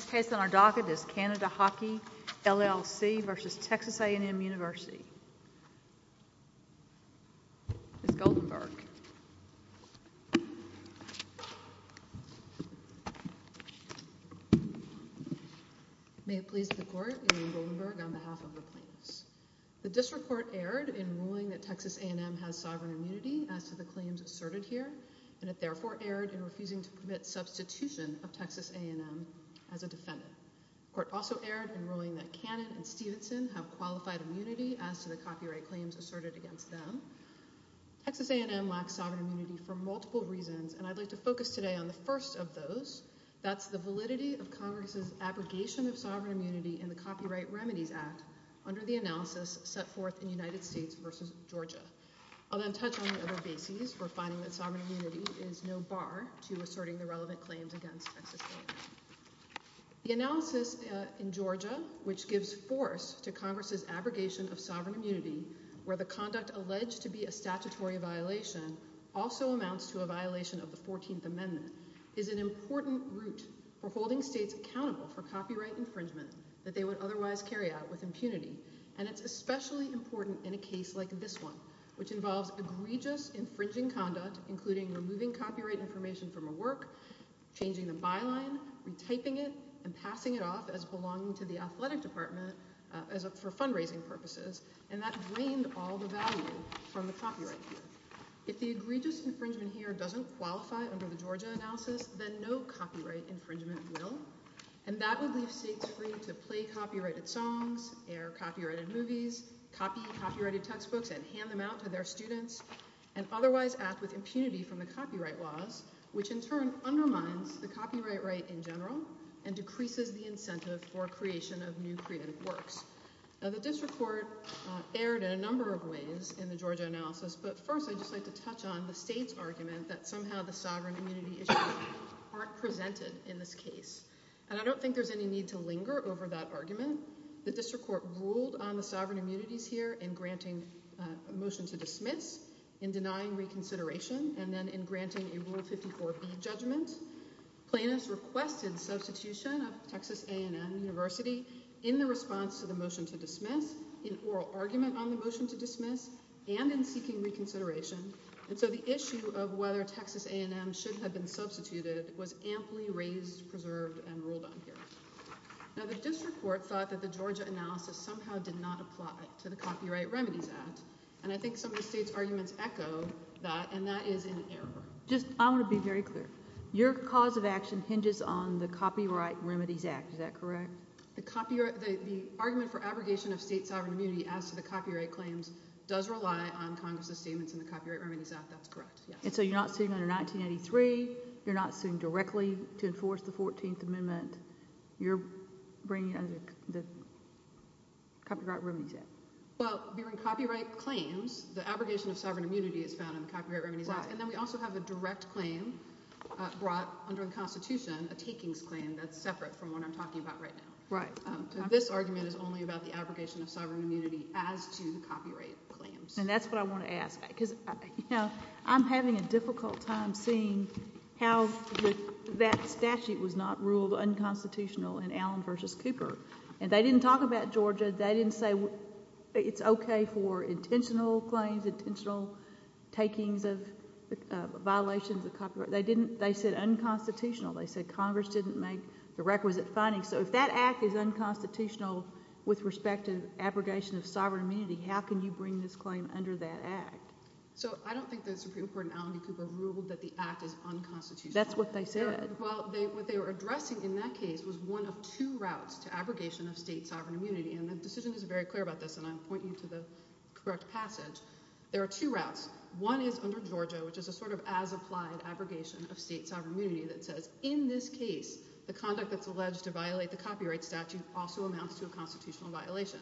This case on our docket is Canada Hockey, LLC v. Texas A&M University. Ms. Goldenberg. May it please the Court, Eileen Goldenberg on behalf of the plaintiffs. The District Court erred in ruling that Texas A&M has sovereign immunity as to the claims asserted here, and it therefore erred in refusing to permit substitution of Texas A&M as a defendant. The Court also erred in ruling that Cannon and Stevenson have qualified immunity as to the copyright claims asserted against them. Texas A&M lacks sovereign immunity for multiple reasons, and I'd like to focus today on the first of those. That's the validity of Congress's abrogation of sovereign immunity in the Copyright Remedies Act under the analysis set forth in United States v. Georgia. I'll then touch on the other bases for finding that sovereign immunity is no bar to asserting the relevant claims against Texas A&M. The analysis in Georgia, which gives force to Congress's abrogation of sovereign immunity, where the conduct alleged to be a statutory violation also amounts to a violation of the 14th Amendment, is an important route for holding states accountable for copyright infringement that they would otherwise carry out with impunity. And it's especially important in a case like this one, which involves egregious infringing conduct, including removing copyright information from a work, changing the byline, retyping it, and passing it off as belonging to the athletic department for fundraising purposes, and that drained all the value from the copyright here. If the egregious infringement here doesn't qualify under the Georgia analysis, then no copyright infringement will, and that would leave states free to play copyrighted songs, air copyrighted movies, copy copyrighted textbooks and hand them out to their students, and otherwise act with impunity from the copyright laws, which in turn undermines the copyright right in general and decreases the incentive for creation of new creative works. Now the district court erred in a number of ways in the Georgia analysis, but first I'd just like to touch on the state's argument that somehow the sovereign immunity issues aren't presented in this case. And I don't think there's any need to linger over that argument. The district court ruled on the sovereign immunities here in granting a motion to dismiss, in denying reconsideration, and then in granting a Rule 54B judgment. Plaintiffs requested substitution of Texas A&M University in the response to the motion to dismiss, in oral argument on the motion to dismiss, and in seeking reconsideration. And so the issue of whether Texas A&M should have been substituted was amply raised, preserved, and ruled on here. Now the district court thought that the Georgia analysis somehow did not apply to the Copyright Remedies Act, and I think some of the state's arguments echo that, and that is in error. I want to be very clear. Your cause of action hinges on the Copyright Remedies Act. Is that correct? The argument for abrogation of state sovereign immunity as to the copyright claims does rely on Congress' statements in the Copyright Remedies Act. That's correct, yes. And so you're not suing under 1983. You're not suing directly to enforce the 14th Amendment. You're bringing it under the Copyright Remedies Act. Well, we're in copyright claims. The abrogation of sovereign immunity is found in the Copyright Remedies Act. Yes, and then we also have a direct claim brought under the Constitution, a takings claim that's separate from what I'm talking about right now. Right. This argument is only about the abrogation of sovereign immunity as to the copyright claims. And that's what I want to ask, because I'm having a difficult time seeing how that statute was not ruled unconstitutional in Allen v. Cooper. And they didn't talk about Georgia. They didn't say it's okay for intentional claims, intentional takings of violations of copyright. They said unconstitutional. They said Congress didn't make the requisite findings. So if that act is unconstitutional with respect to abrogation of sovereign immunity, how can you bring this claim under that act? So I don't think the Supreme Court in Allen v. Cooper ruled that the act is unconstitutional. That's what they said. Well, what they were addressing in that case was one of two routes to abrogation of state sovereign immunity. And the decision is very clear about this, and I'll point you to the correct passage. There are two routes. One is under Georgia, which is a sort of as-applied abrogation of state sovereign immunity that says in this case the conduct that's alleged to violate the copyright statute also amounts to a constitutional violation.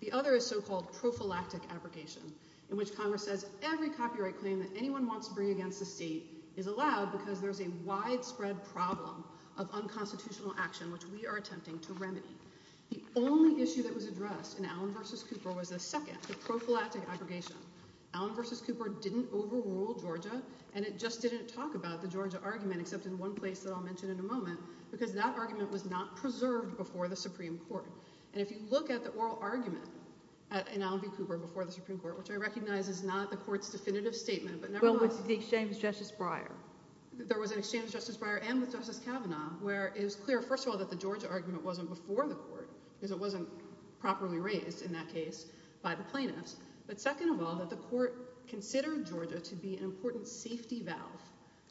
The other is so-called prophylactic abrogation in which Congress says every copyright claim that anyone wants to bring against the state is allowed because there's a widespread problem of unconstitutional action, which we are attempting to remedy. The only issue that was addressed in Allen v. Cooper was the second, the prophylactic abrogation. Allen v. Cooper didn't overrule Georgia, and it just didn't talk about the Georgia argument, except in one place that I'll mention in a moment, because that argument was not preserved before the Supreme Court. And if you look at the oral argument in Allen v. Cooper before the Supreme Court, which I recognize is not the court's definitive statement, but nevertheless – Well, it's the exchange with Justice Breyer. There was an exchange with Justice Breyer and with Justice Kavanaugh where it was clear, first of all, that the Georgia argument wasn't before the court because it wasn't properly raised in that case by the plaintiffs. But second of all, that the court considered Georgia to be an important safety valve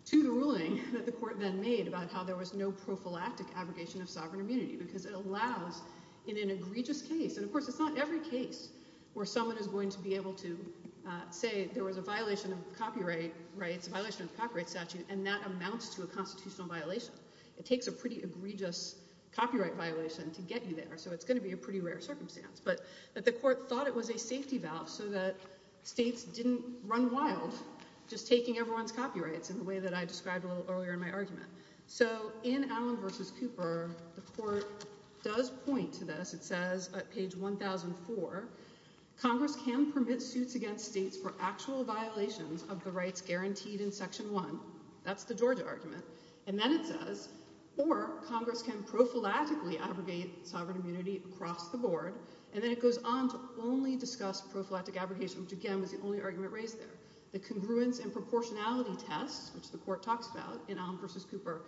to the ruling that the court then made about how there was no prophylactic abrogation of sovereign immunity because it allows in an egregious case – and of course it's not every case where someone is going to be able to say there was a violation of copyright rights, a violation of the copyright statute, and that amounts to a constitutional violation. It takes a pretty egregious copyright violation to get you there, so it's going to be a pretty rare circumstance. But the court thought it was a safety valve so that states didn't run wild just taking everyone's copyrights in the way that I described a little earlier in my argument. So in Allen v. Cooper, the court does point to this. It says at page 1004, Congress can permit suits against states for actual violations of the rights guaranteed in Section 1. That's the Georgia argument. And then it says, or Congress can prophylactically abrogate sovereign immunity across the board. And then it goes on to only discuss prophylactic abrogation, which again was the only argument raised there. The congruence and proportionality test, which the court talks about in Allen v. Cooper,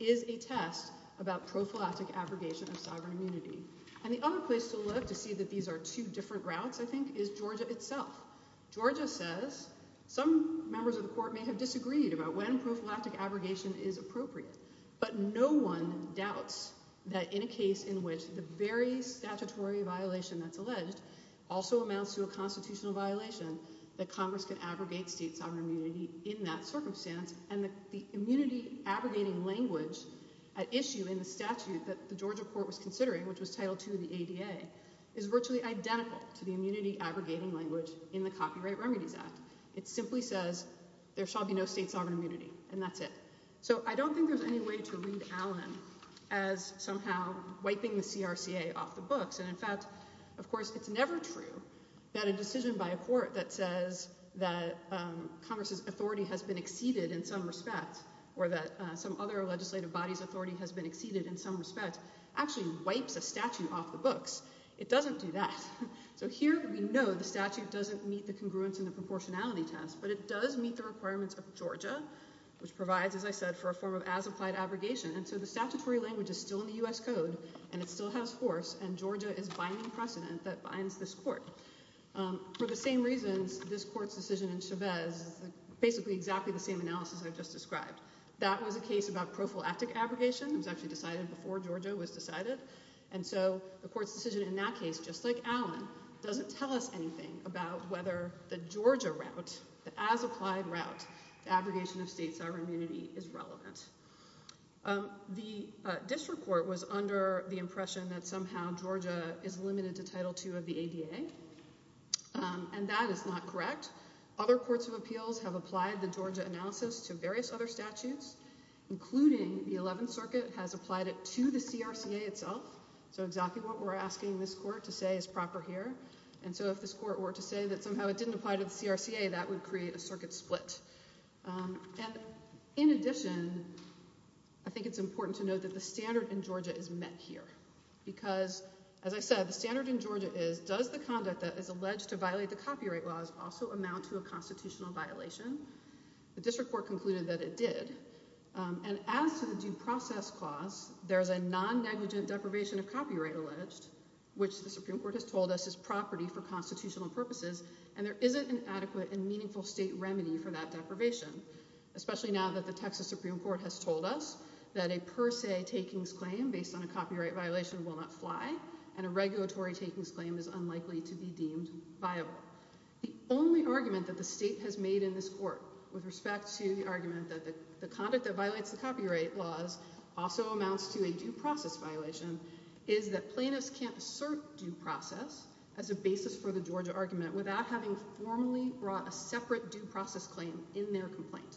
is a test about prophylactic abrogation of sovereign immunity. And the other place to look to see that these are two different routes, I think, is Georgia itself. Georgia says some members of the court may have disagreed about when prophylactic abrogation is appropriate. But no one doubts that in a case in which the very statutory violation that's alleged also amounts to a constitutional violation, that Congress can abrogate state sovereign immunity in that circumstance. And the immunity abrogating language at issue in the statute that the Georgia court was considering, which was Title II of the ADA, is virtually identical to the immunity abrogating language in the Copyright Remedies Act. It simply says there shall be no state sovereign immunity, and that's it. So I don't think there's any way to read Allen as somehow wiping the CRCA off the books. And in fact, of course, it's never true that a decision by a court that says that Congress's authority has been exceeded in some respect or that some other legislative body's authority has been exceeded in some respect actually wipes a statute off the books. It doesn't do that. So here we know the statute doesn't meet the congruence and the proportionality test, but it does meet the requirements of Georgia, which provides, as I said, for a form of as-applied abrogation. And so the statutory language is still in the U.S. Code, and it still has force, and Georgia is binding precedent that binds this court. For the same reasons, this court's decision in Chavez is basically exactly the same analysis I've just described. That was a case about prophylactic abrogation. It was actually decided before Georgia was decided. And so the court's decision in that case, just like Allen, doesn't tell us anything about whether the Georgia route, the as-applied route to abrogation of state sovereign immunity, is relevant. The district court was under the impression that somehow Georgia is limited to Title II of the ADA, and that is not correct. Other courts of appeals have applied the Georgia analysis to various other statutes, including the Eleventh Circuit has applied it to the CRCA itself. So exactly what we're asking this court to say is proper here. And so if this court were to say that somehow it didn't apply to the CRCA, that would create a circuit split. And in addition, I think it's important to note that the standard in Georgia is met here. Because, as I said, the standard in Georgia is, does the conduct that is alleged to violate the copyright laws also amount to a constitutional violation? The district court concluded that it did. And as to the due process clause, there's a non-negligent deprivation of copyright alleged, which the Supreme Court has told us is property for constitutional purposes. And there isn't an adequate and meaningful state remedy for that deprivation, especially now that the Texas Supreme Court has told us that a per se takings claim based on a copyright violation will not fly. And a regulatory takings claim is unlikely to be deemed viable. The only argument that the state has made in this court with respect to the argument that the conduct that violates the copyright laws also amounts to a due process violation, is that plaintiffs can't assert due process as a basis for the Georgia argument without having formally brought a separate due process claim in their complaint.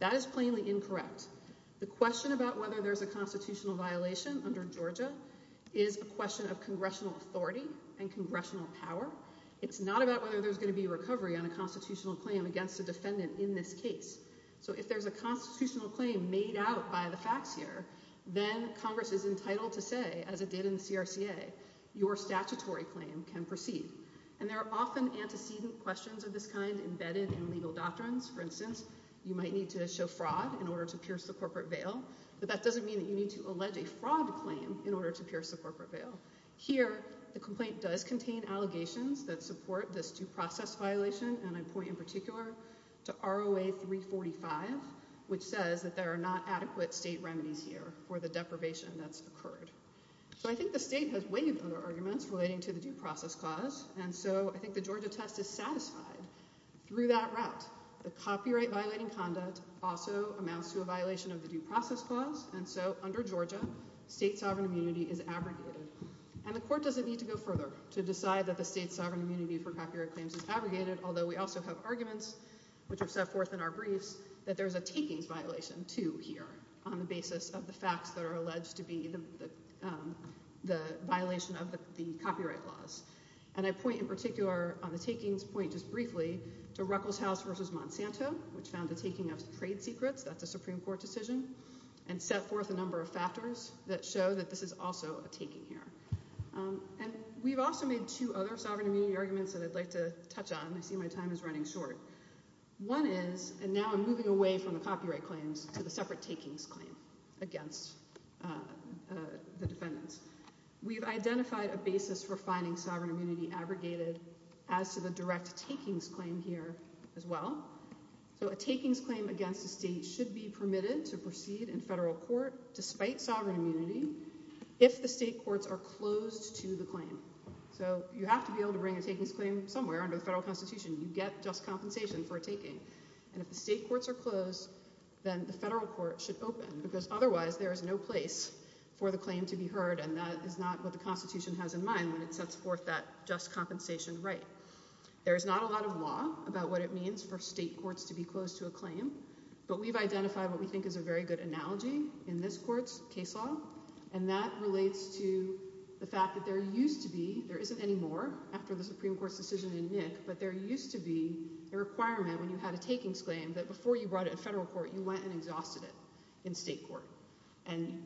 That is plainly incorrect. The question about whether there's a constitutional violation under Georgia is a question of congressional authority and congressional power. It's not about whether there's going to be recovery on a constitutional claim against a defendant in this case. So if there's a constitutional claim made out by the facts here, then Congress is entitled to say, as it did in CRCA, your statutory claim can proceed. And there are often antecedent questions of this kind embedded in legal doctrines. For instance, you might need to show fraud in order to pierce the corporate veil, but that doesn't mean that you need to allege a fraud claim in order to pierce the corporate veil. Here, the complaint does contain allegations that support this due process violation, and I point in particular to ROA 345, which says that there are not adequate state remedies here for the deprivation that's occurred. So I think the state has waived other arguments relating to the due process clause, and so I think the Georgia test is satisfied. Through that route, the copyright-violating conduct also amounts to a violation of the due process clause, and so under Georgia, state sovereign immunity is abrogated. And the court doesn't need to go further to decide that the state sovereign immunity for copyright claims is abrogated, although we also have arguments which are set forth in our briefs that there's a takings violation too here on the basis of the facts that are alleged to be the violation of the copyright laws. And I point in particular on the takings point just briefly to Ruckelshaus v. Monsanto, which found the taking of trade secrets—that's a Supreme Court decision— and set forth a number of factors that show that this is also a taking here. And we've also made two other sovereign immunity arguments that I'd like to touch on. I see my time is running short. One is—and now I'm moving away from the copyright claims to the separate takings claim against the defendants. We've identified a basis for finding sovereign immunity abrogated as to the direct takings claim here as well. So a takings claim against a state should be permitted to proceed in federal court despite sovereign immunity if the state courts are closed to the claim. So you have to be able to bring a takings claim somewhere under the federal Constitution. And if the state courts are closed, then the federal court should open because otherwise there is no place for the claim to be heard, and that is not what the Constitution has in mind when it sets forth that just compensation right. There is not a lot of law about what it means for state courts to be closed to a claim, but we've identified what we think is a very good analogy in this court's case law, and that relates to the fact that there used to be—there isn't any more after the Supreme Court's decision in Nick— but there used to be a requirement when you had a takings claim that before you brought it to federal court, you went and exhausted it in state court and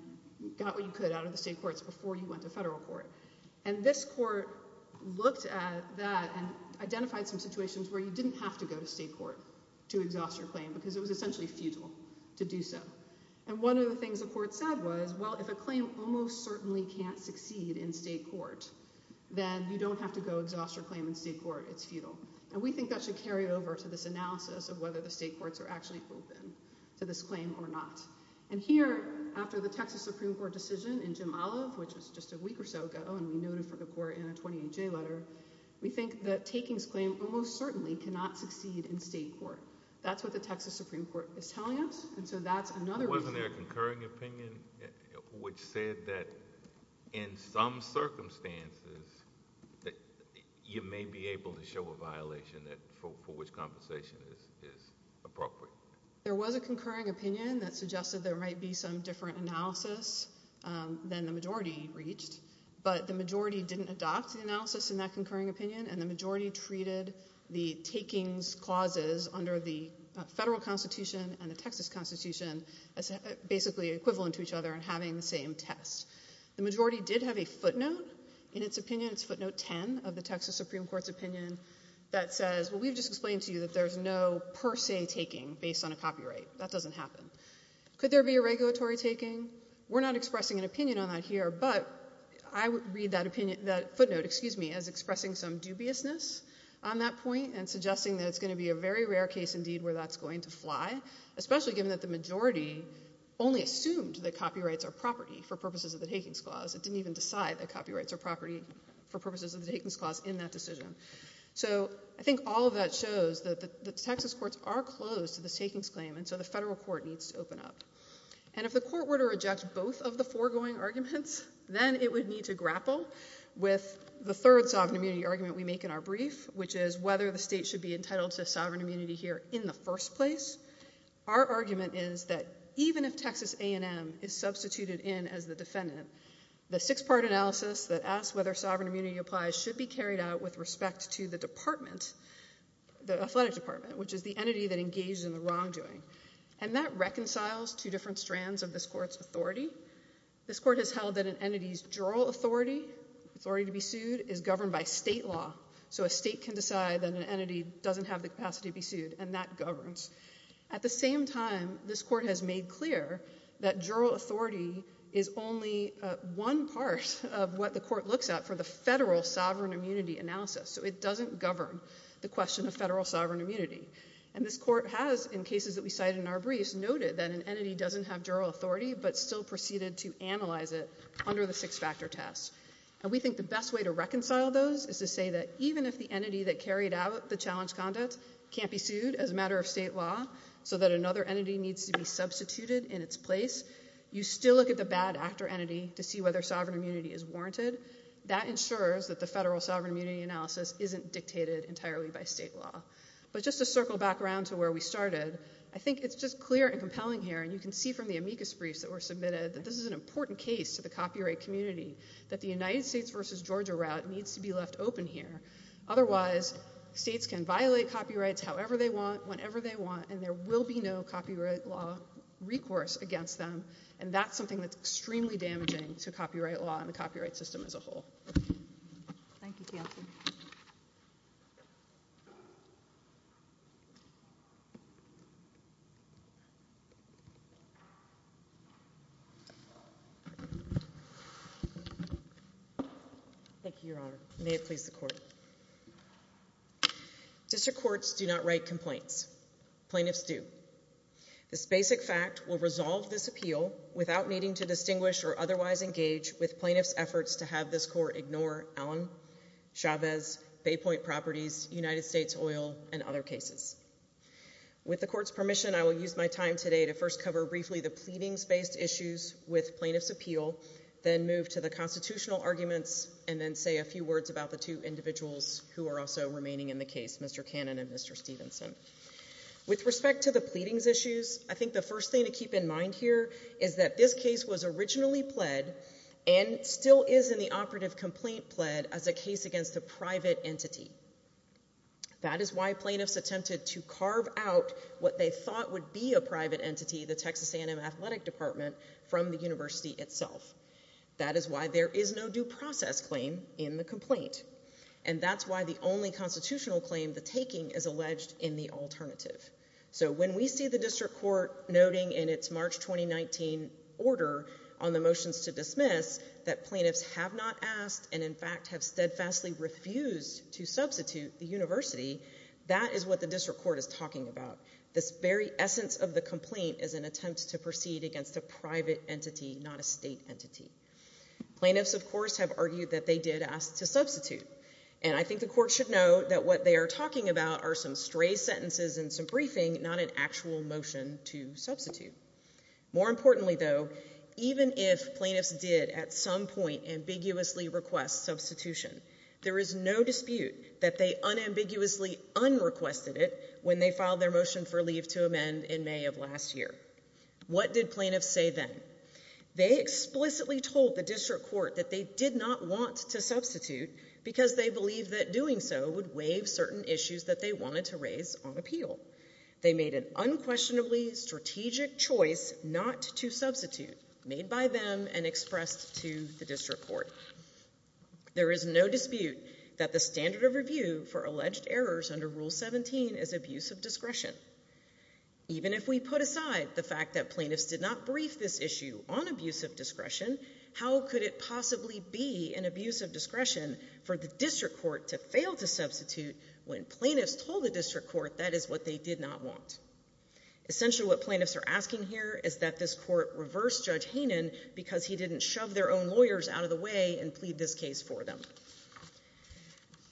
got what you could out of the state courts before you went to federal court. And this court looked at that and identified some situations where you didn't have to go to state court to exhaust your claim because it was essentially futile to do so. And one of the things the court said was, well, if a claim almost certainly can't succeed in state court, then you don't have to go exhaust your claim in state court. It's futile. And we think that should carry over to this analysis of whether the state courts are actually open to this claim or not. And here, after the Texas Supreme Court decision in Jim Olive, which was just a week or so ago, and we noted for the court in a 28-J letter, we think that takings claim almost certainly cannot succeed in state court. That's what the Texas Supreme Court is telling us, and so that's another reason— Wasn't there a concurring opinion which said that in some circumstances, you may be able to show a violation for which compensation is appropriate? There was a concurring opinion that suggested there might be some different analysis than the majority reached, but the majority didn't adopt the analysis in that concurring opinion, and the majority treated the takings clauses under the federal constitution and the Texas constitution as basically equivalent to each other and having the same test. The majority did have a footnote in its opinion. It's footnote 10 of the Texas Supreme Court's opinion that says, well, we've just explained to you that there's no per se taking based on a copyright. That doesn't happen. Could there be a regulatory taking? We're not expressing an opinion on that here, but I would read that footnote as expressing some dubiousness on that point and suggesting that it's going to be a very rare case indeed where that's going to fly, especially given that the majority only assumed that copyrights are property for purposes of the takings clause. It didn't even decide that copyrights are property for purposes of the takings clause in that decision. So I think all of that shows that the Texas courts are closed to this takings claim, and so the federal court needs to open up. And if the court were to reject both of the foregoing arguments, then it would need to grapple with the third sovereign immunity argument we make in our brief, which is whether the state should be entitled to sovereign immunity here in the first place. Our argument is that even if Texas A&M is substituted in as the defendant, the six-part analysis that asks whether sovereign immunity applies should be carried out with respect to the department, the athletic department, which is the entity that engages in the wrongdoing. And that reconciles two different strands of this court's authority. This court has held that an entity's juror authority, authority to be sued, is governed by state law. So a state can decide that an entity doesn't have the capacity to be sued, and that governs. At the same time, this court has made clear that juror authority is only one part of what the court looks at for the federal sovereign immunity analysis. So it doesn't govern the question of federal sovereign immunity. And this court has, in cases that we cite in our briefs, noted that an entity doesn't have juror authority but still proceeded to analyze it under the six-factor test. And we think the best way to reconcile those is to say that even if the entity that carried out the challenge conduct can't be sued as a matter of state law so that another entity needs to be substituted in its place, you still look at the bad actor entity to see whether sovereign immunity is warranted. That ensures that the federal sovereign immunity analysis isn't dictated entirely by state law. But just to circle back around to where we started, I think it's just clear and compelling here, and you can see from the amicus briefs that were submitted, that this is an important case to the copyright community, that the United States versus Georgia route needs to be left open here. Otherwise, states can violate copyrights however they want, whenever they want, and there will be no copyright law recourse against them, and that's something that's extremely damaging to copyright law and the copyright system as a whole. Thank you, Counsel. Thank you, Your Honor. May it please the Court. District courts do not write complaints. Plaintiffs do. This basic fact will resolve this appeal without needing to distinguish or otherwise engage with plaintiffs' efforts to have this Court ignore Allen, Chavez, Bay Point Properties, United States Oil, and other cases. With the Court's permission, I will use my time today to first cover briefly the pleadings-based issues with plaintiffs' appeal, then move to the constitutional arguments, and then say a few words about the two individuals who are also remaining in the case, Mr. Cannon and Mr. Stevenson. With respect to the pleadings issues, I think the first thing to keep in mind here is that this case was originally pled and still is in the operative complaint pled as a case against a private entity. That is why plaintiffs attempted to carve out what they thought would be a private entity, the Texas A&M Athletic Department, from the university itself. That is why there is no due process claim in the complaint, and that's why the only constitutional claim, the taking, is alleged in the alternative. So when we see the District Court noting in its March 2019 order on the motions to dismiss that plaintiffs have not asked and, in fact, have steadfastly refused to substitute the university, that is what the District Court is talking about. This very essence of the complaint is an attempt to proceed against a private entity, not a state entity. Plaintiffs, of course, have argued that they did ask to substitute, and I think the Court should know that what they are talking about are some stray sentences and some briefing, not an actual motion to substitute. More importantly, though, even if plaintiffs did at some point ambiguously request substitution, there is no dispute that they unambiguously unrequested it when they filed their motion for leave to amend in May of last year. What did plaintiffs say then? They explicitly told the District Court that they did not want to substitute because they believed that doing so would waive certain issues that they wanted to raise on appeal. They made an unquestionably strategic choice not to substitute, made by them and expressed to the District Court. There is no dispute that the standard of review for alleged errors under Rule 17 is abuse of discretion. Even if we put aside the fact that plaintiffs did not brief this issue on abuse of discretion, how could it possibly be an abuse of discretion for the District Court to fail to substitute when plaintiffs told the District Court that is what they did not want? Essentially, what plaintiffs are asking here is that this Court reverse Judge Hanen because he didn't shove their own lawyers out of the way and plead this case for them.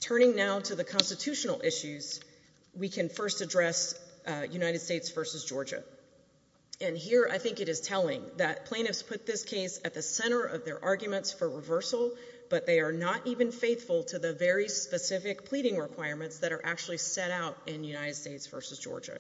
Turning now to the constitutional issues, we can first address United States v. Georgia. Here, I think it is telling that plaintiffs put this case at the center of their arguments for reversal, but they are not even faithful to the very specific pleading requirements that are actually set out in United States v. Georgia.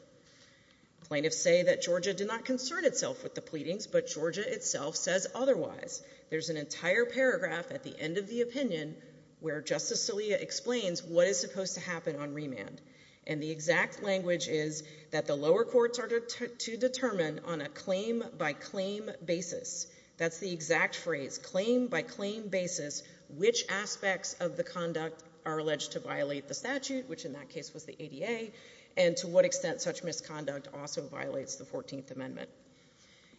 Plaintiffs say that Georgia did not concern itself with the pleadings, but Georgia itself says otherwise. There is an entire paragraph at the end of the opinion where Justice Scalia explains what is supposed to happen on remand. The exact language is that the lower courts are to determine on a claim-by-claim basis. That is the exact phrase, claim-by-claim basis, which aspects of the conduct are alleged to violate the statute, which in that case was the ADA, and to what extent such misconduct also violates the 14th Amendment.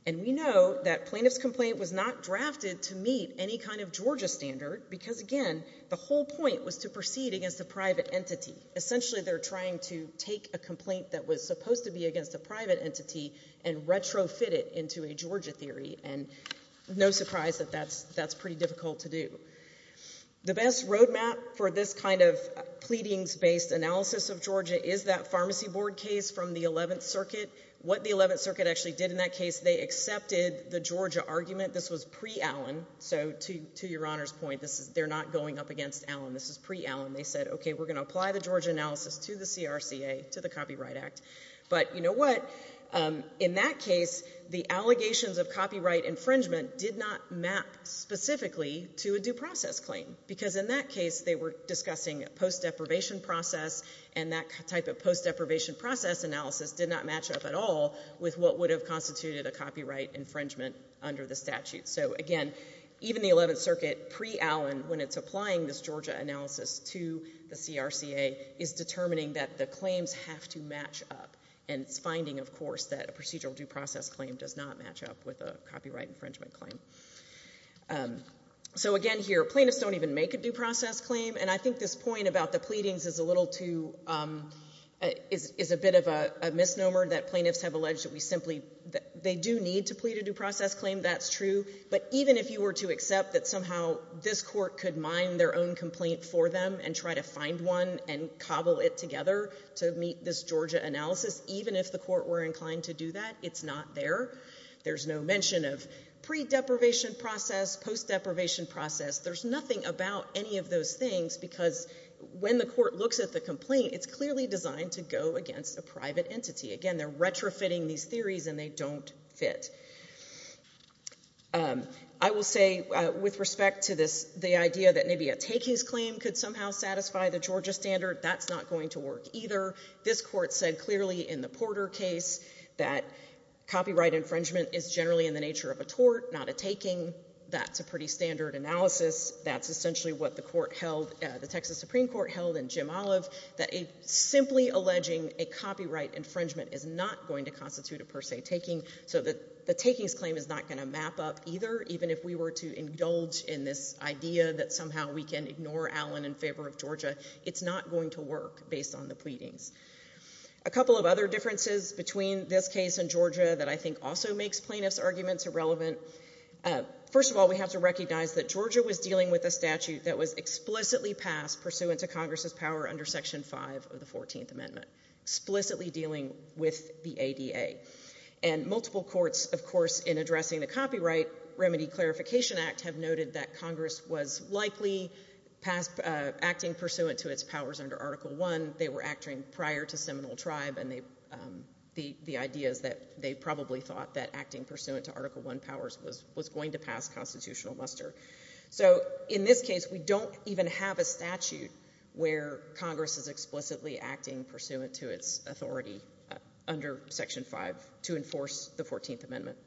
We know that plaintiff's complaint was not drafted to meet any kind of Georgia standard because, again, the whole point was to proceed against a private entity. Essentially, they are trying to take a complaint that was supposed to be against a private entity and retrofit it into a Georgia theory, and no surprise that that is pretty difficult to do. The best roadmap for this kind of pleadings-based analysis of Georgia is that pharmacy board case from the 11th Circuit. What the 11th Circuit actually did in that case, they accepted the Georgia argument. This was pre-Allen, so to Your Honor's point, they are not going up against Allen. This is pre-Allen. They said, okay, we're going to apply the Georgia analysis to the CRCA, to the Copyright Act. But you know what? In that case, the allegations of copyright infringement did not map specifically to a due process claim because in that case they were discussing a post-deprivation process, and that type of post-deprivation process analysis did not match up at all with what would have constituted a copyright infringement under the statute. So again, even the 11th Circuit, pre-Allen, when it's applying this Georgia analysis to the CRCA, is determining that the claims have to match up, and it's finding, of course, that a procedural due process claim does not match up with a copyright infringement claim. So again here, plaintiffs don't even make a due process claim, and I think this point about the pleadings is a little too, is a bit of a misnomer that plaintiffs have alleged that we simply, they do need to plead a due process claim. That's true. But even if you were to accept that somehow this court could mine their own complaint for them and try to find one and cobble it together to meet this Georgia analysis, even if the court were inclined to do that, it's not there. There's no mention of pre-deprivation process, post-deprivation process. There's nothing about any of those things because when the court looks at the complaint, it's clearly designed to go against a private entity. Again, they're retrofitting these theories and they don't fit. I will say with respect to this, the idea that maybe a takings claim could somehow satisfy the Georgia standard, that's not going to work either. This court said clearly in the Porter case that copyright infringement is generally in the nature of a tort, not a taking. That's a pretty standard analysis. That's essentially what the court held, the Texas Supreme Court held, and Jim Olive, that simply alleging a copyright infringement is not going to constitute a per se taking, so the takings claim is not going to map up either, even if we were to indulge in this idea that somehow we can ignore Allen in favor of Georgia. It's not going to work based on the pleadings. A couple of other differences between this case and Georgia that I think also makes plaintiffs' arguments irrelevant. First of all, we have to recognize that Georgia was dealing with a statute that was explicitly passed pursuant to Congress's power under Section 5 of the 14th Amendment, explicitly dealing with the ADA. And multiple courts, of course, in addressing the Copyright Remedy Clarification Act, have noted that Congress was likely acting pursuant to its powers under Article I. They were acting prior to Seminole Tribe, and the idea is that they probably thought that acting pursuant to Article I powers was going to pass constitutional muster. So in this case, we don't even have a statute where Congress is explicitly acting pursuant to its authority under Section 5 to enforce the 14th Amendment.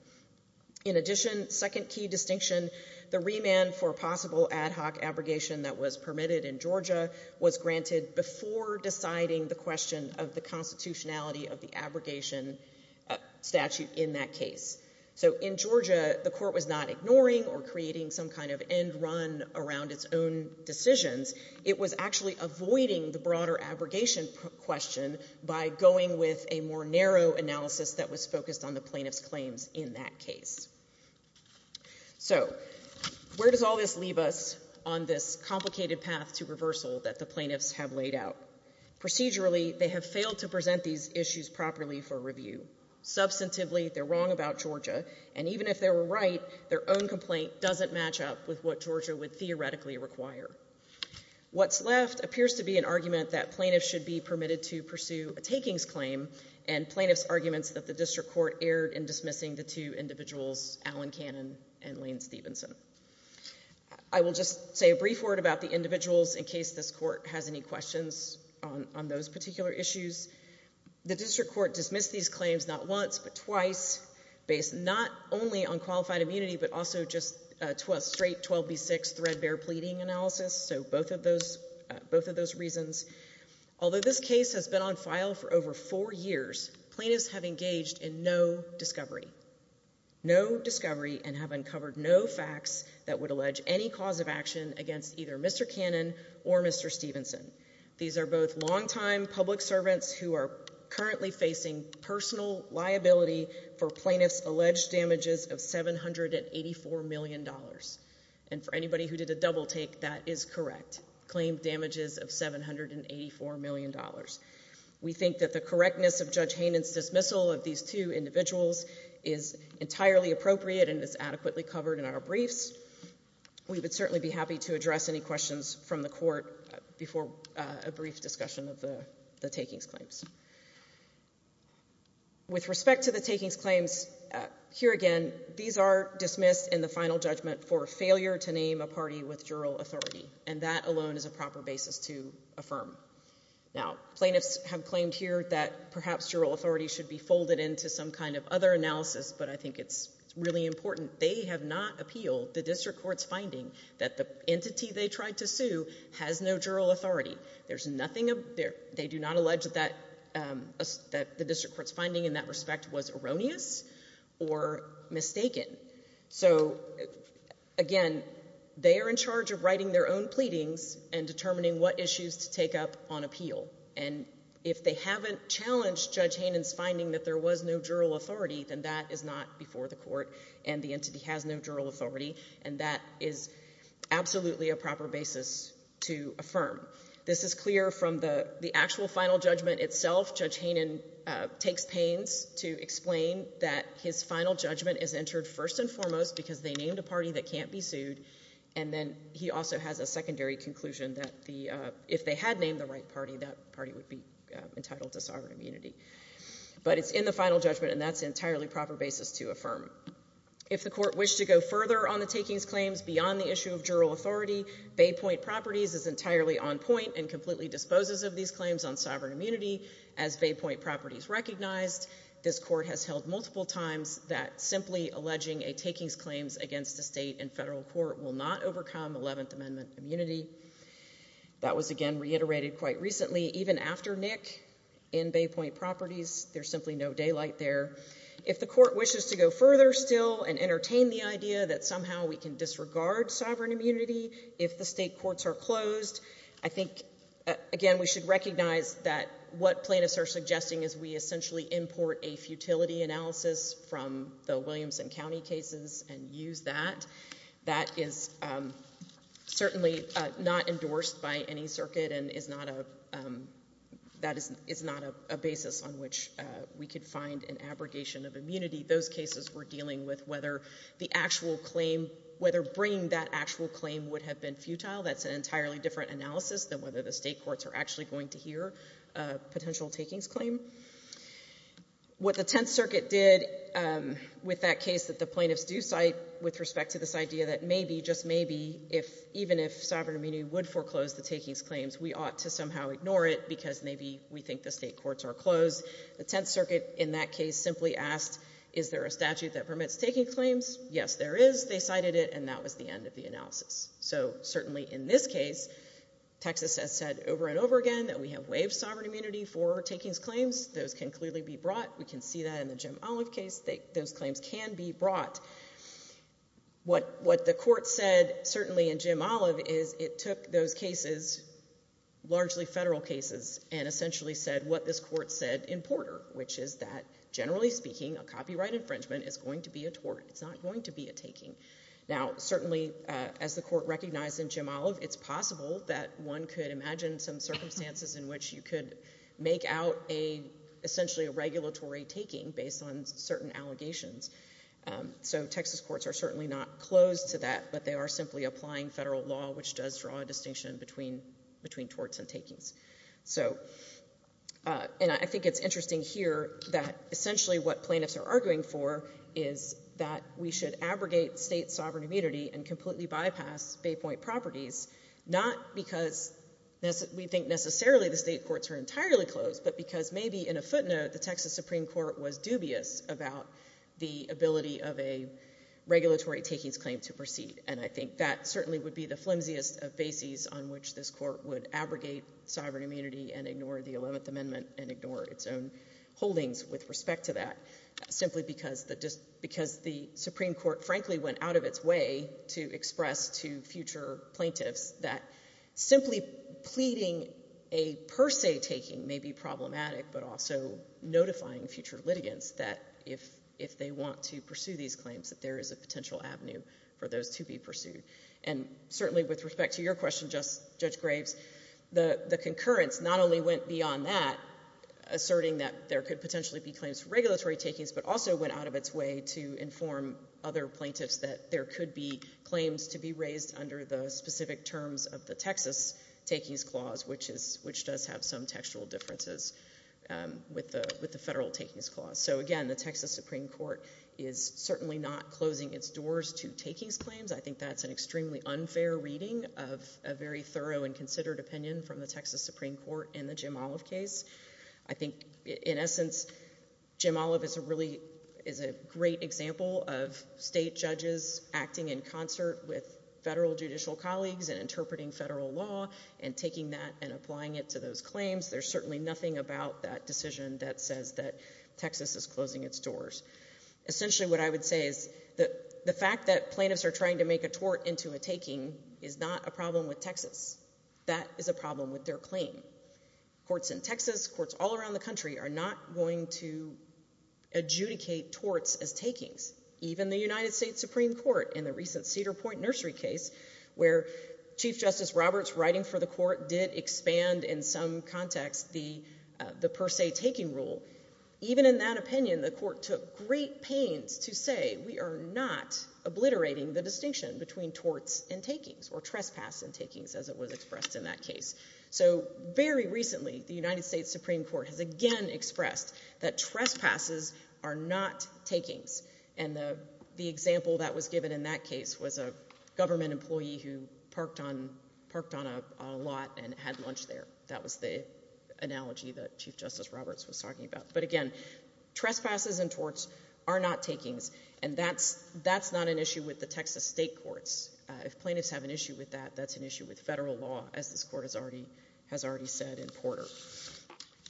In addition, second key distinction, the remand for possible ad hoc abrogation that was permitted in Georgia was granted before deciding the question of the constitutionality of the abrogation statute in that case. So in Georgia, the court was not ignoring or creating some kind of end run around its own decisions. It was actually avoiding the broader abrogation question by going with a more narrow analysis that was focused on the plaintiff's claims in that case. So where does all this leave us on this complicated path to reversal that the plaintiffs have laid out? Procedurally, they have failed to present these issues properly for review. Substantively, they're wrong about Georgia, and even if they were right, their own complaint doesn't match up with what Georgia would theoretically require. What's left appears to be an argument that plaintiffs should be permitted to pursue a takings claim and plaintiffs' arguments that the district court erred in dismissing the two individuals, Alan Cannon and Lane Stevenson. I will just say a brief word about the individuals in case this court has any questions on those particular issues. The district court dismissed these claims not once but twice, based not only on qualified immunity but also just straight 12B6 threadbare pleading analysis, so both of those reasons. Although this case has been on file for over four years, plaintiffs have engaged in no discovery, no discovery and have uncovered no facts that would allege any cause of action against either Mr. Cannon or Mr. Stevenson. These are both longtime public servants who are currently facing personal liability for plaintiffs' alleged damages of $784 million. And for anybody who did a double take, that is correct, claimed damages of $784 million. We think that the correctness of Judge Haynen's dismissal of these two individuals is entirely appropriate and is adequately covered in our briefs. We would certainly be happy to address any questions from the court before a brief discussion of the takings claims. With respect to the takings claims, here again, these are dismissed in the final judgment for failure to name a party with jural authority, and that alone is a proper basis to affirm. Now, plaintiffs have claimed here that perhaps jural authority should be folded into some kind of other analysis, but I think it's really important. They have not appealed the district court's finding that the entity they tried to sue has no jural authority. There's nothing there. They do not allege that the district court's finding in that respect was erroneous or mistaken. So, again, they are in charge of writing their own pleadings and determining what issues to take up on appeal. And if they haven't challenged Judge Haynen's finding that there was no jural authority, then that is not before the court and the entity has no jural authority, and that is absolutely a proper basis to affirm. This is clear from the actual final judgment itself. Judge Haynen takes pains to explain that his final judgment is entered first and foremost because they named a party that can't be sued, and then he also has a secondary conclusion that if they had named the right party, that party would be entitled to sovereign immunity. But it's in the final judgment, and that's an entirely proper basis to affirm. If the court wished to go further on the takings claims beyond the issue of jural authority, Bay Point Properties is entirely on point and completely disposes of these claims on sovereign immunity. As Bay Point Properties recognized, this court has held multiple times that simply alleging a takings claims against the state and federal court will not overcome Eleventh Amendment immunity. That was, again, reiterated quite recently. Even after Nick in Bay Point Properties, there's simply no daylight there. If the court wishes to go further still and entertain the idea that somehow we can disregard sovereign immunity if the state courts are closed, I think, again, we should recognize that what plaintiffs are suggesting is we essentially import a futility analysis from the Williamson County cases and use that. That is certainly not endorsed by any circuit, and that is not a basis on which we could find an abrogation of immunity. Those cases were dealing with whether bringing that actual claim would have been futile. That's an entirely different analysis than whether the state courts are actually going to hear a potential takings claim. What the Tenth Circuit did with that case that the plaintiffs do cite with respect to this idea that maybe, just maybe, even if sovereign immunity would foreclose the takings claims, we ought to somehow ignore it because maybe we think the state courts are closed. The Tenth Circuit in that case simply asked, is there a statute that permits taking claims? Yes, there is. They cited it, and that was the end of the analysis. So certainly in this case, Texas has said over and over again that we have waived sovereign immunity for takings claims. Those can clearly be brought. We can see that in the Jim Olive case. Those claims can be brought. What the court said, certainly in Jim Olive, is it took those cases, largely federal cases, and essentially said what this court said in Porter, which is that, generally speaking, a copyright infringement is going to be a tort. It's not going to be a taking. Now, certainly, as the court recognized in Jim Olive, it's possible that one could imagine some circumstances in which you could make out, essentially, a regulatory taking based on certain allegations. So Texas courts are certainly not closed to that, but they are simply applying federal law, which does draw a distinction between torts and takings. And I think it's interesting here that, essentially, what plaintiffs are arguing for is that we should abrogate state sovereign immunity and completely bypass Bay Point properties, not because we think necessarily the state courts are entirely closed, but because maybe, in a footnote, the Texas Supreme Court was dubious about the ability of a regulatory takings claim to proceed. And I think that certainly would be the flimsiest of bases on which this court would abrogate sovereign immunity and ignore the Eleventh Amendment and ignore its own holdings with respect to that, simply because the Supreme Court, frankly, went out of its way to express to future plaintiffs that simply pleading a per se taking may be problematic, but also notifying future litigants that, if they want to pursue these claims, that there is a potential avenue for those to be pursued. And certainly with respect to your question, Judge Graves, the concurrence not only went beyond that, asserting that there could potentially be claims for regulatory takings, but also went out of its way to inform other plaintiffs that there could be claims to be raised under the specific terms of the Texas takings clause, which does have some textual differences with the federal takings clause. So again, the Texas Supreme Court is certainly not closing its doors to takings claims. I think that's an extremely unfair reading of a very thorough and considered opinion from the Texas Supreme Court in the Jim Olive case. I think, in essence, Jim Olive is a great example of state judges acting in concert with federal judicial colleagues and interpreting federal law and taking that and applying it to those claims. There's certainly nothing about that decision that says that Texas is closing its doors. Essentially what I would say is the fact that plaintiffs are trying to make a tort into a taking is not a problem with Texas. That is a problem with their claim. Courts in Texas, courts all around the country are not going to adjudicate torts as takings. Even the United States Supreme Court in the recent Cedar Point Nursery case, where Chief Justice Roberts writing for the court did expand in some context the per se taking rule, even in that opinion the court took great pains to say we are not obliterating the distinction between torts and takings or trespass and takings as it was expressed in that case. So very recently the United States Supreme Court has again expressed that trespasses are not takings. And the example that was given in that case was a government employee who parked on a lot and had lunch there. That was the analogy that Chief Justice Roberts was talking about. But again, trespasses and torts are not takings, and that's not an issue with the Texas state courts. If plaintiffs have an issue with that, that's an issue with federal law, as this court has already said in Porter.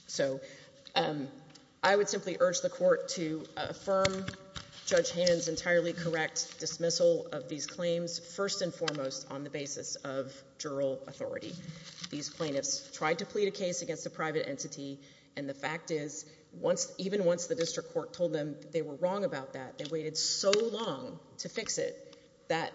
So I would simply urge the court to affirm Judge Hannon's entirely correct dismissal of these claims, first and foremost on the basis of jural authority. These plaintiffs tried to plead a case against a private entity, and the fact is, even once the district court told them they were wrong about that, they waited so long to fix it that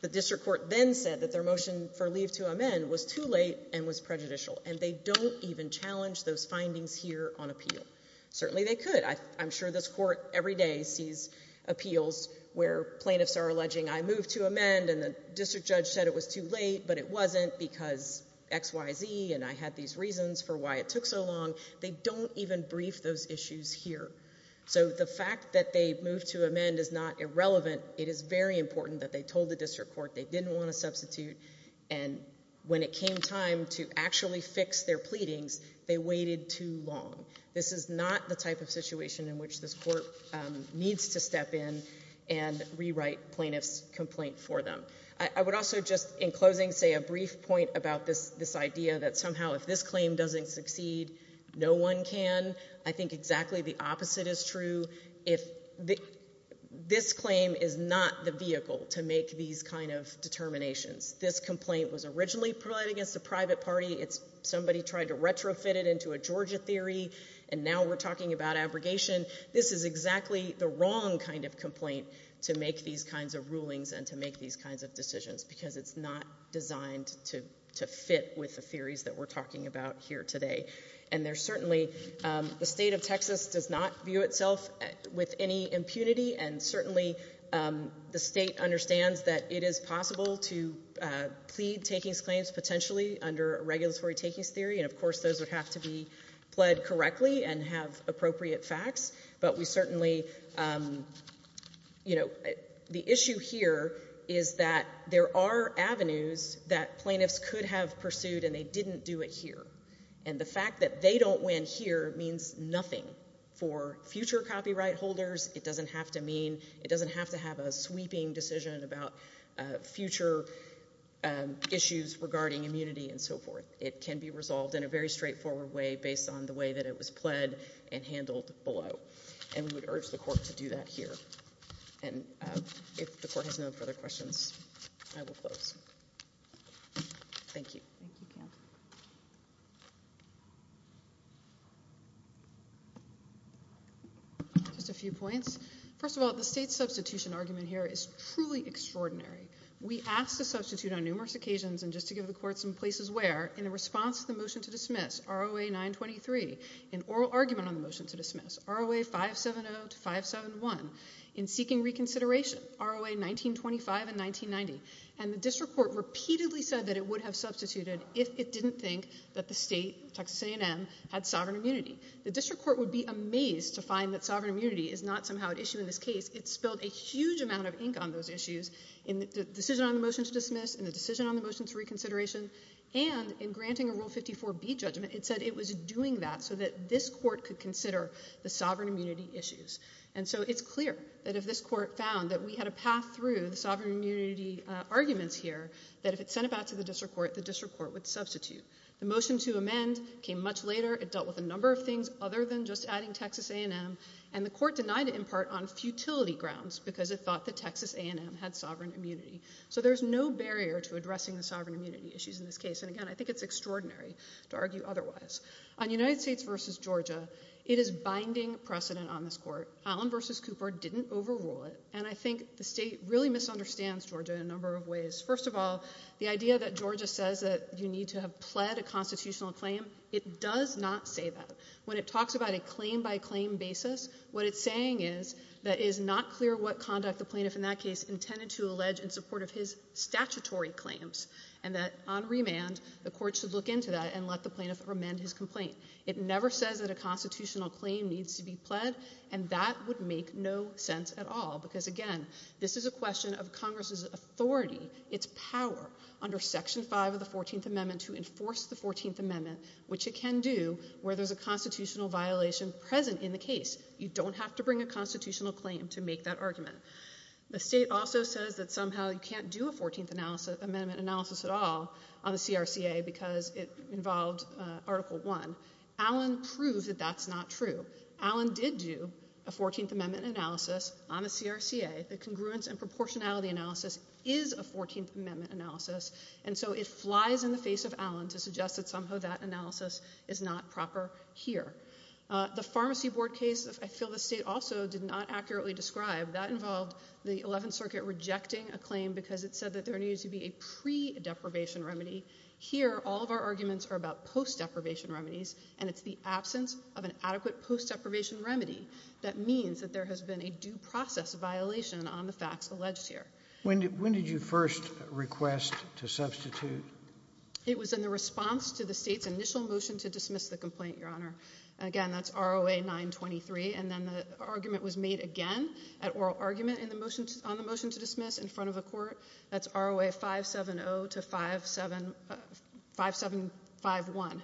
the district court then said that their motion for leave to amend was too late and was prejudicial. And they don't even challenge those findings here on appeal. Certainly they could. I'm sure this court every day sees appeals where plaintiffs are alleging I moved to amend and the district judge said it was too late, but it wasn't because X, Y, Z, and I had these reasons for why it took so long. They don't even brief those issues here. So the fact that they moved to amend is not irrelevant. It is very important that they told the district court they didn't want to substitute. And when it came time to actually fix their pleadings, they waited too long. This is not the type of situation in which this court needs to step in and rewrite plaintiffs' complaint for them. I would also just, in closing, say a brief point about this idea that somehow if this claim doesn't succeed, no one can. I think exactly the opposite is true. This claim is not the vehicle to make these kind of determinations. This complaint was originally filed against a private party. Somebody tried to retrofit it into a Georgia theory, and now we're talking about abrogation. This is exactly the wrong kind of complaint to make these kinds of rulings and to make these kinds of decisions because it's not designed to fit with the theories that we're talking about here today. And there's certainly—the state of Texas does not view itself with any impunity, and certainly the state understands that it is possible to plead takings claims potentially under a regulatory takings theory. And, of course, those would have to be pled correctly and have appropriate facts. But we certainly—the issue here is that there are avenues that plaintiffs could have pursued, and they didn't do it here. And the fact that they don't win here means nothing for future copyright holders. It doesn't have to mean—it doesn't have to have a sweeping decision about future issues regarding immunity and so forth. It can be resolved in a very straightforward way based on the way that it was pled and handled below. And we would urge the court to do that here. And if the court has no further questions, I will close. Thank you. Thank you, Counsel. Just a few points. First of all, the state substitution argument here is truly extraordinary. We asked to substitute on numerous occasions, and just to give the court some places where, in response to the motion to dismiss, ROA 923, in oral argument on the motion to dismiss, ROA 570 to 571, in seeking reconsideration, ROA 1925 and 1990. And the district court repeatedly said that it would have substituted if it didn't think that the state—Texas A&M—had sovereign immunity. The district court would be amazed to find that sovereign immunity is not somehow at issue in this case. It spilled a huge amount of ink on those issues in the decision on the motion to dismiss, in the decision on the motion to reconsideration, and in granting a Rule 54B judgment. It said it was doing that so that this court could consider the sovereign immunity issues. And so it's clear that if this court found that we had a path through the sovereign immunity arguments here, that if it sent it back to the district court, the district court would substitute. The motion to amend came much later. It dealt with a number of things other than just adding Texas A&M, and the court denied it in part on futility grounds because it thought that Texas A&M had sovereign immunity. So there's no barrier to addressing the sovereign immunity issues in this case. And again, I think it's extraordinary to argue otherwise. On United States v. Georgia, it is binding precedent on this court. Allen v. Cooper didn't overrule it. And I think the state really misunderstands Georgia in a number of ways. First of all, the idea that Georgia says that you need to have pled a constitutional claim, it does not say that. When it talks about a claim-by-claim basis, what it's saying is that it is not clear what conduct the plaintiff, in that case, intended to allege in support of his statutory claims, and that on remand the court should look into that and let the plaintiff amend his complaint. It never says that a constitutional claim needs to be pled, and that would make no sense at all, because, again, this is a question of Congress's authority, its power, under Section 5 of the 14th Amendment to enforce the 14th Amendment, which it can do where there's a constitutional violation present in the case. You don't have to bring a constitutional claim to make that argument. The state also says that somehow you can't do a 14th Amendment analysis at all on the CRCA because it involved Article I. Allen proved that that's not true. Allen did do a 14th Amendment analysis on the CRCA. The congruence and proportionality analysis is a 14th Amendment analysis, and so it flies in the face of Allen to suggest that somehow that analysis is not proper here. The Pharmacy Board case, I feel the state also did not accurately describe. That involved the Eleventh Circuit rejecting a claim because it said that there needed to be a pre-deprivation remedy. Here, all of our arguments are about post-deprivation remedies, and it's the absence of an adequate post-deprivation remedy that means that there has been a due process violation on the facts alleged here. When did you first request to substitute? It was in the response to the state's initial motion to dismiss the complaint, Your Honor. Again, that's ROA 923, and then the argument was made again at oral argument on the motion to dismiss in front of the court. That's ROA 570 to 5751.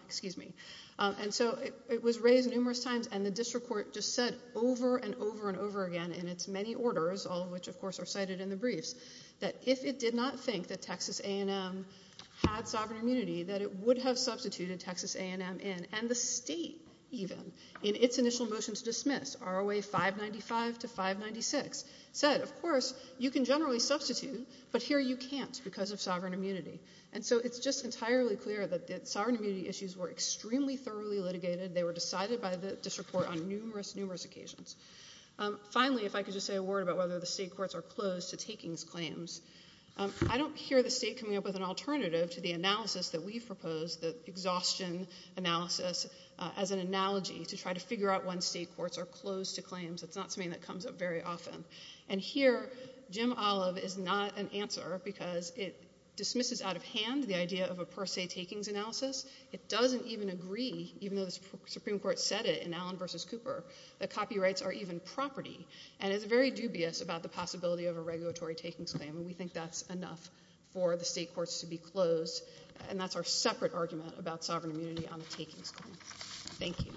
And so it was raised numerous times, and the district court just said over and over and over again in its many orders, all of which, of course, are cited in the briefs, that if it did not think that Texas A&M had sovereign immunity, that it would have substituted Texas A&M in. And the state, even, in its initial motion to dismiss, ROA 595 to 596, said, of course, you can generally substitute, but here you can't because of sovereign immunity. And so it's just entirely clear that the sovereign immunity issues were extremely thoroughly litigated. They were decided by the district court on numerous, numerous occasions. Finally, if I could just say a word about whether the state courts are closed to takings claims. I don't hear the state coming up with an alternative to the analysis that we've proposed, the exhaustion analysis, as an analogy to try to figure out when state courts are closed to claims. It's not something that comes up very often. And here, Jim Olive is not an answer because it dismisses out of hand the idea of a per se takings analysis. It doesn't even agree, even though the Supreme Court said it in Allen v. Cooper, that copyrights are even property, and is very dubious about the possibility of a regulatory takings claim. And we think that's enough for the state courts to be closed, and that's our separate argument about sovereign immunity on the takings claim. Thank you.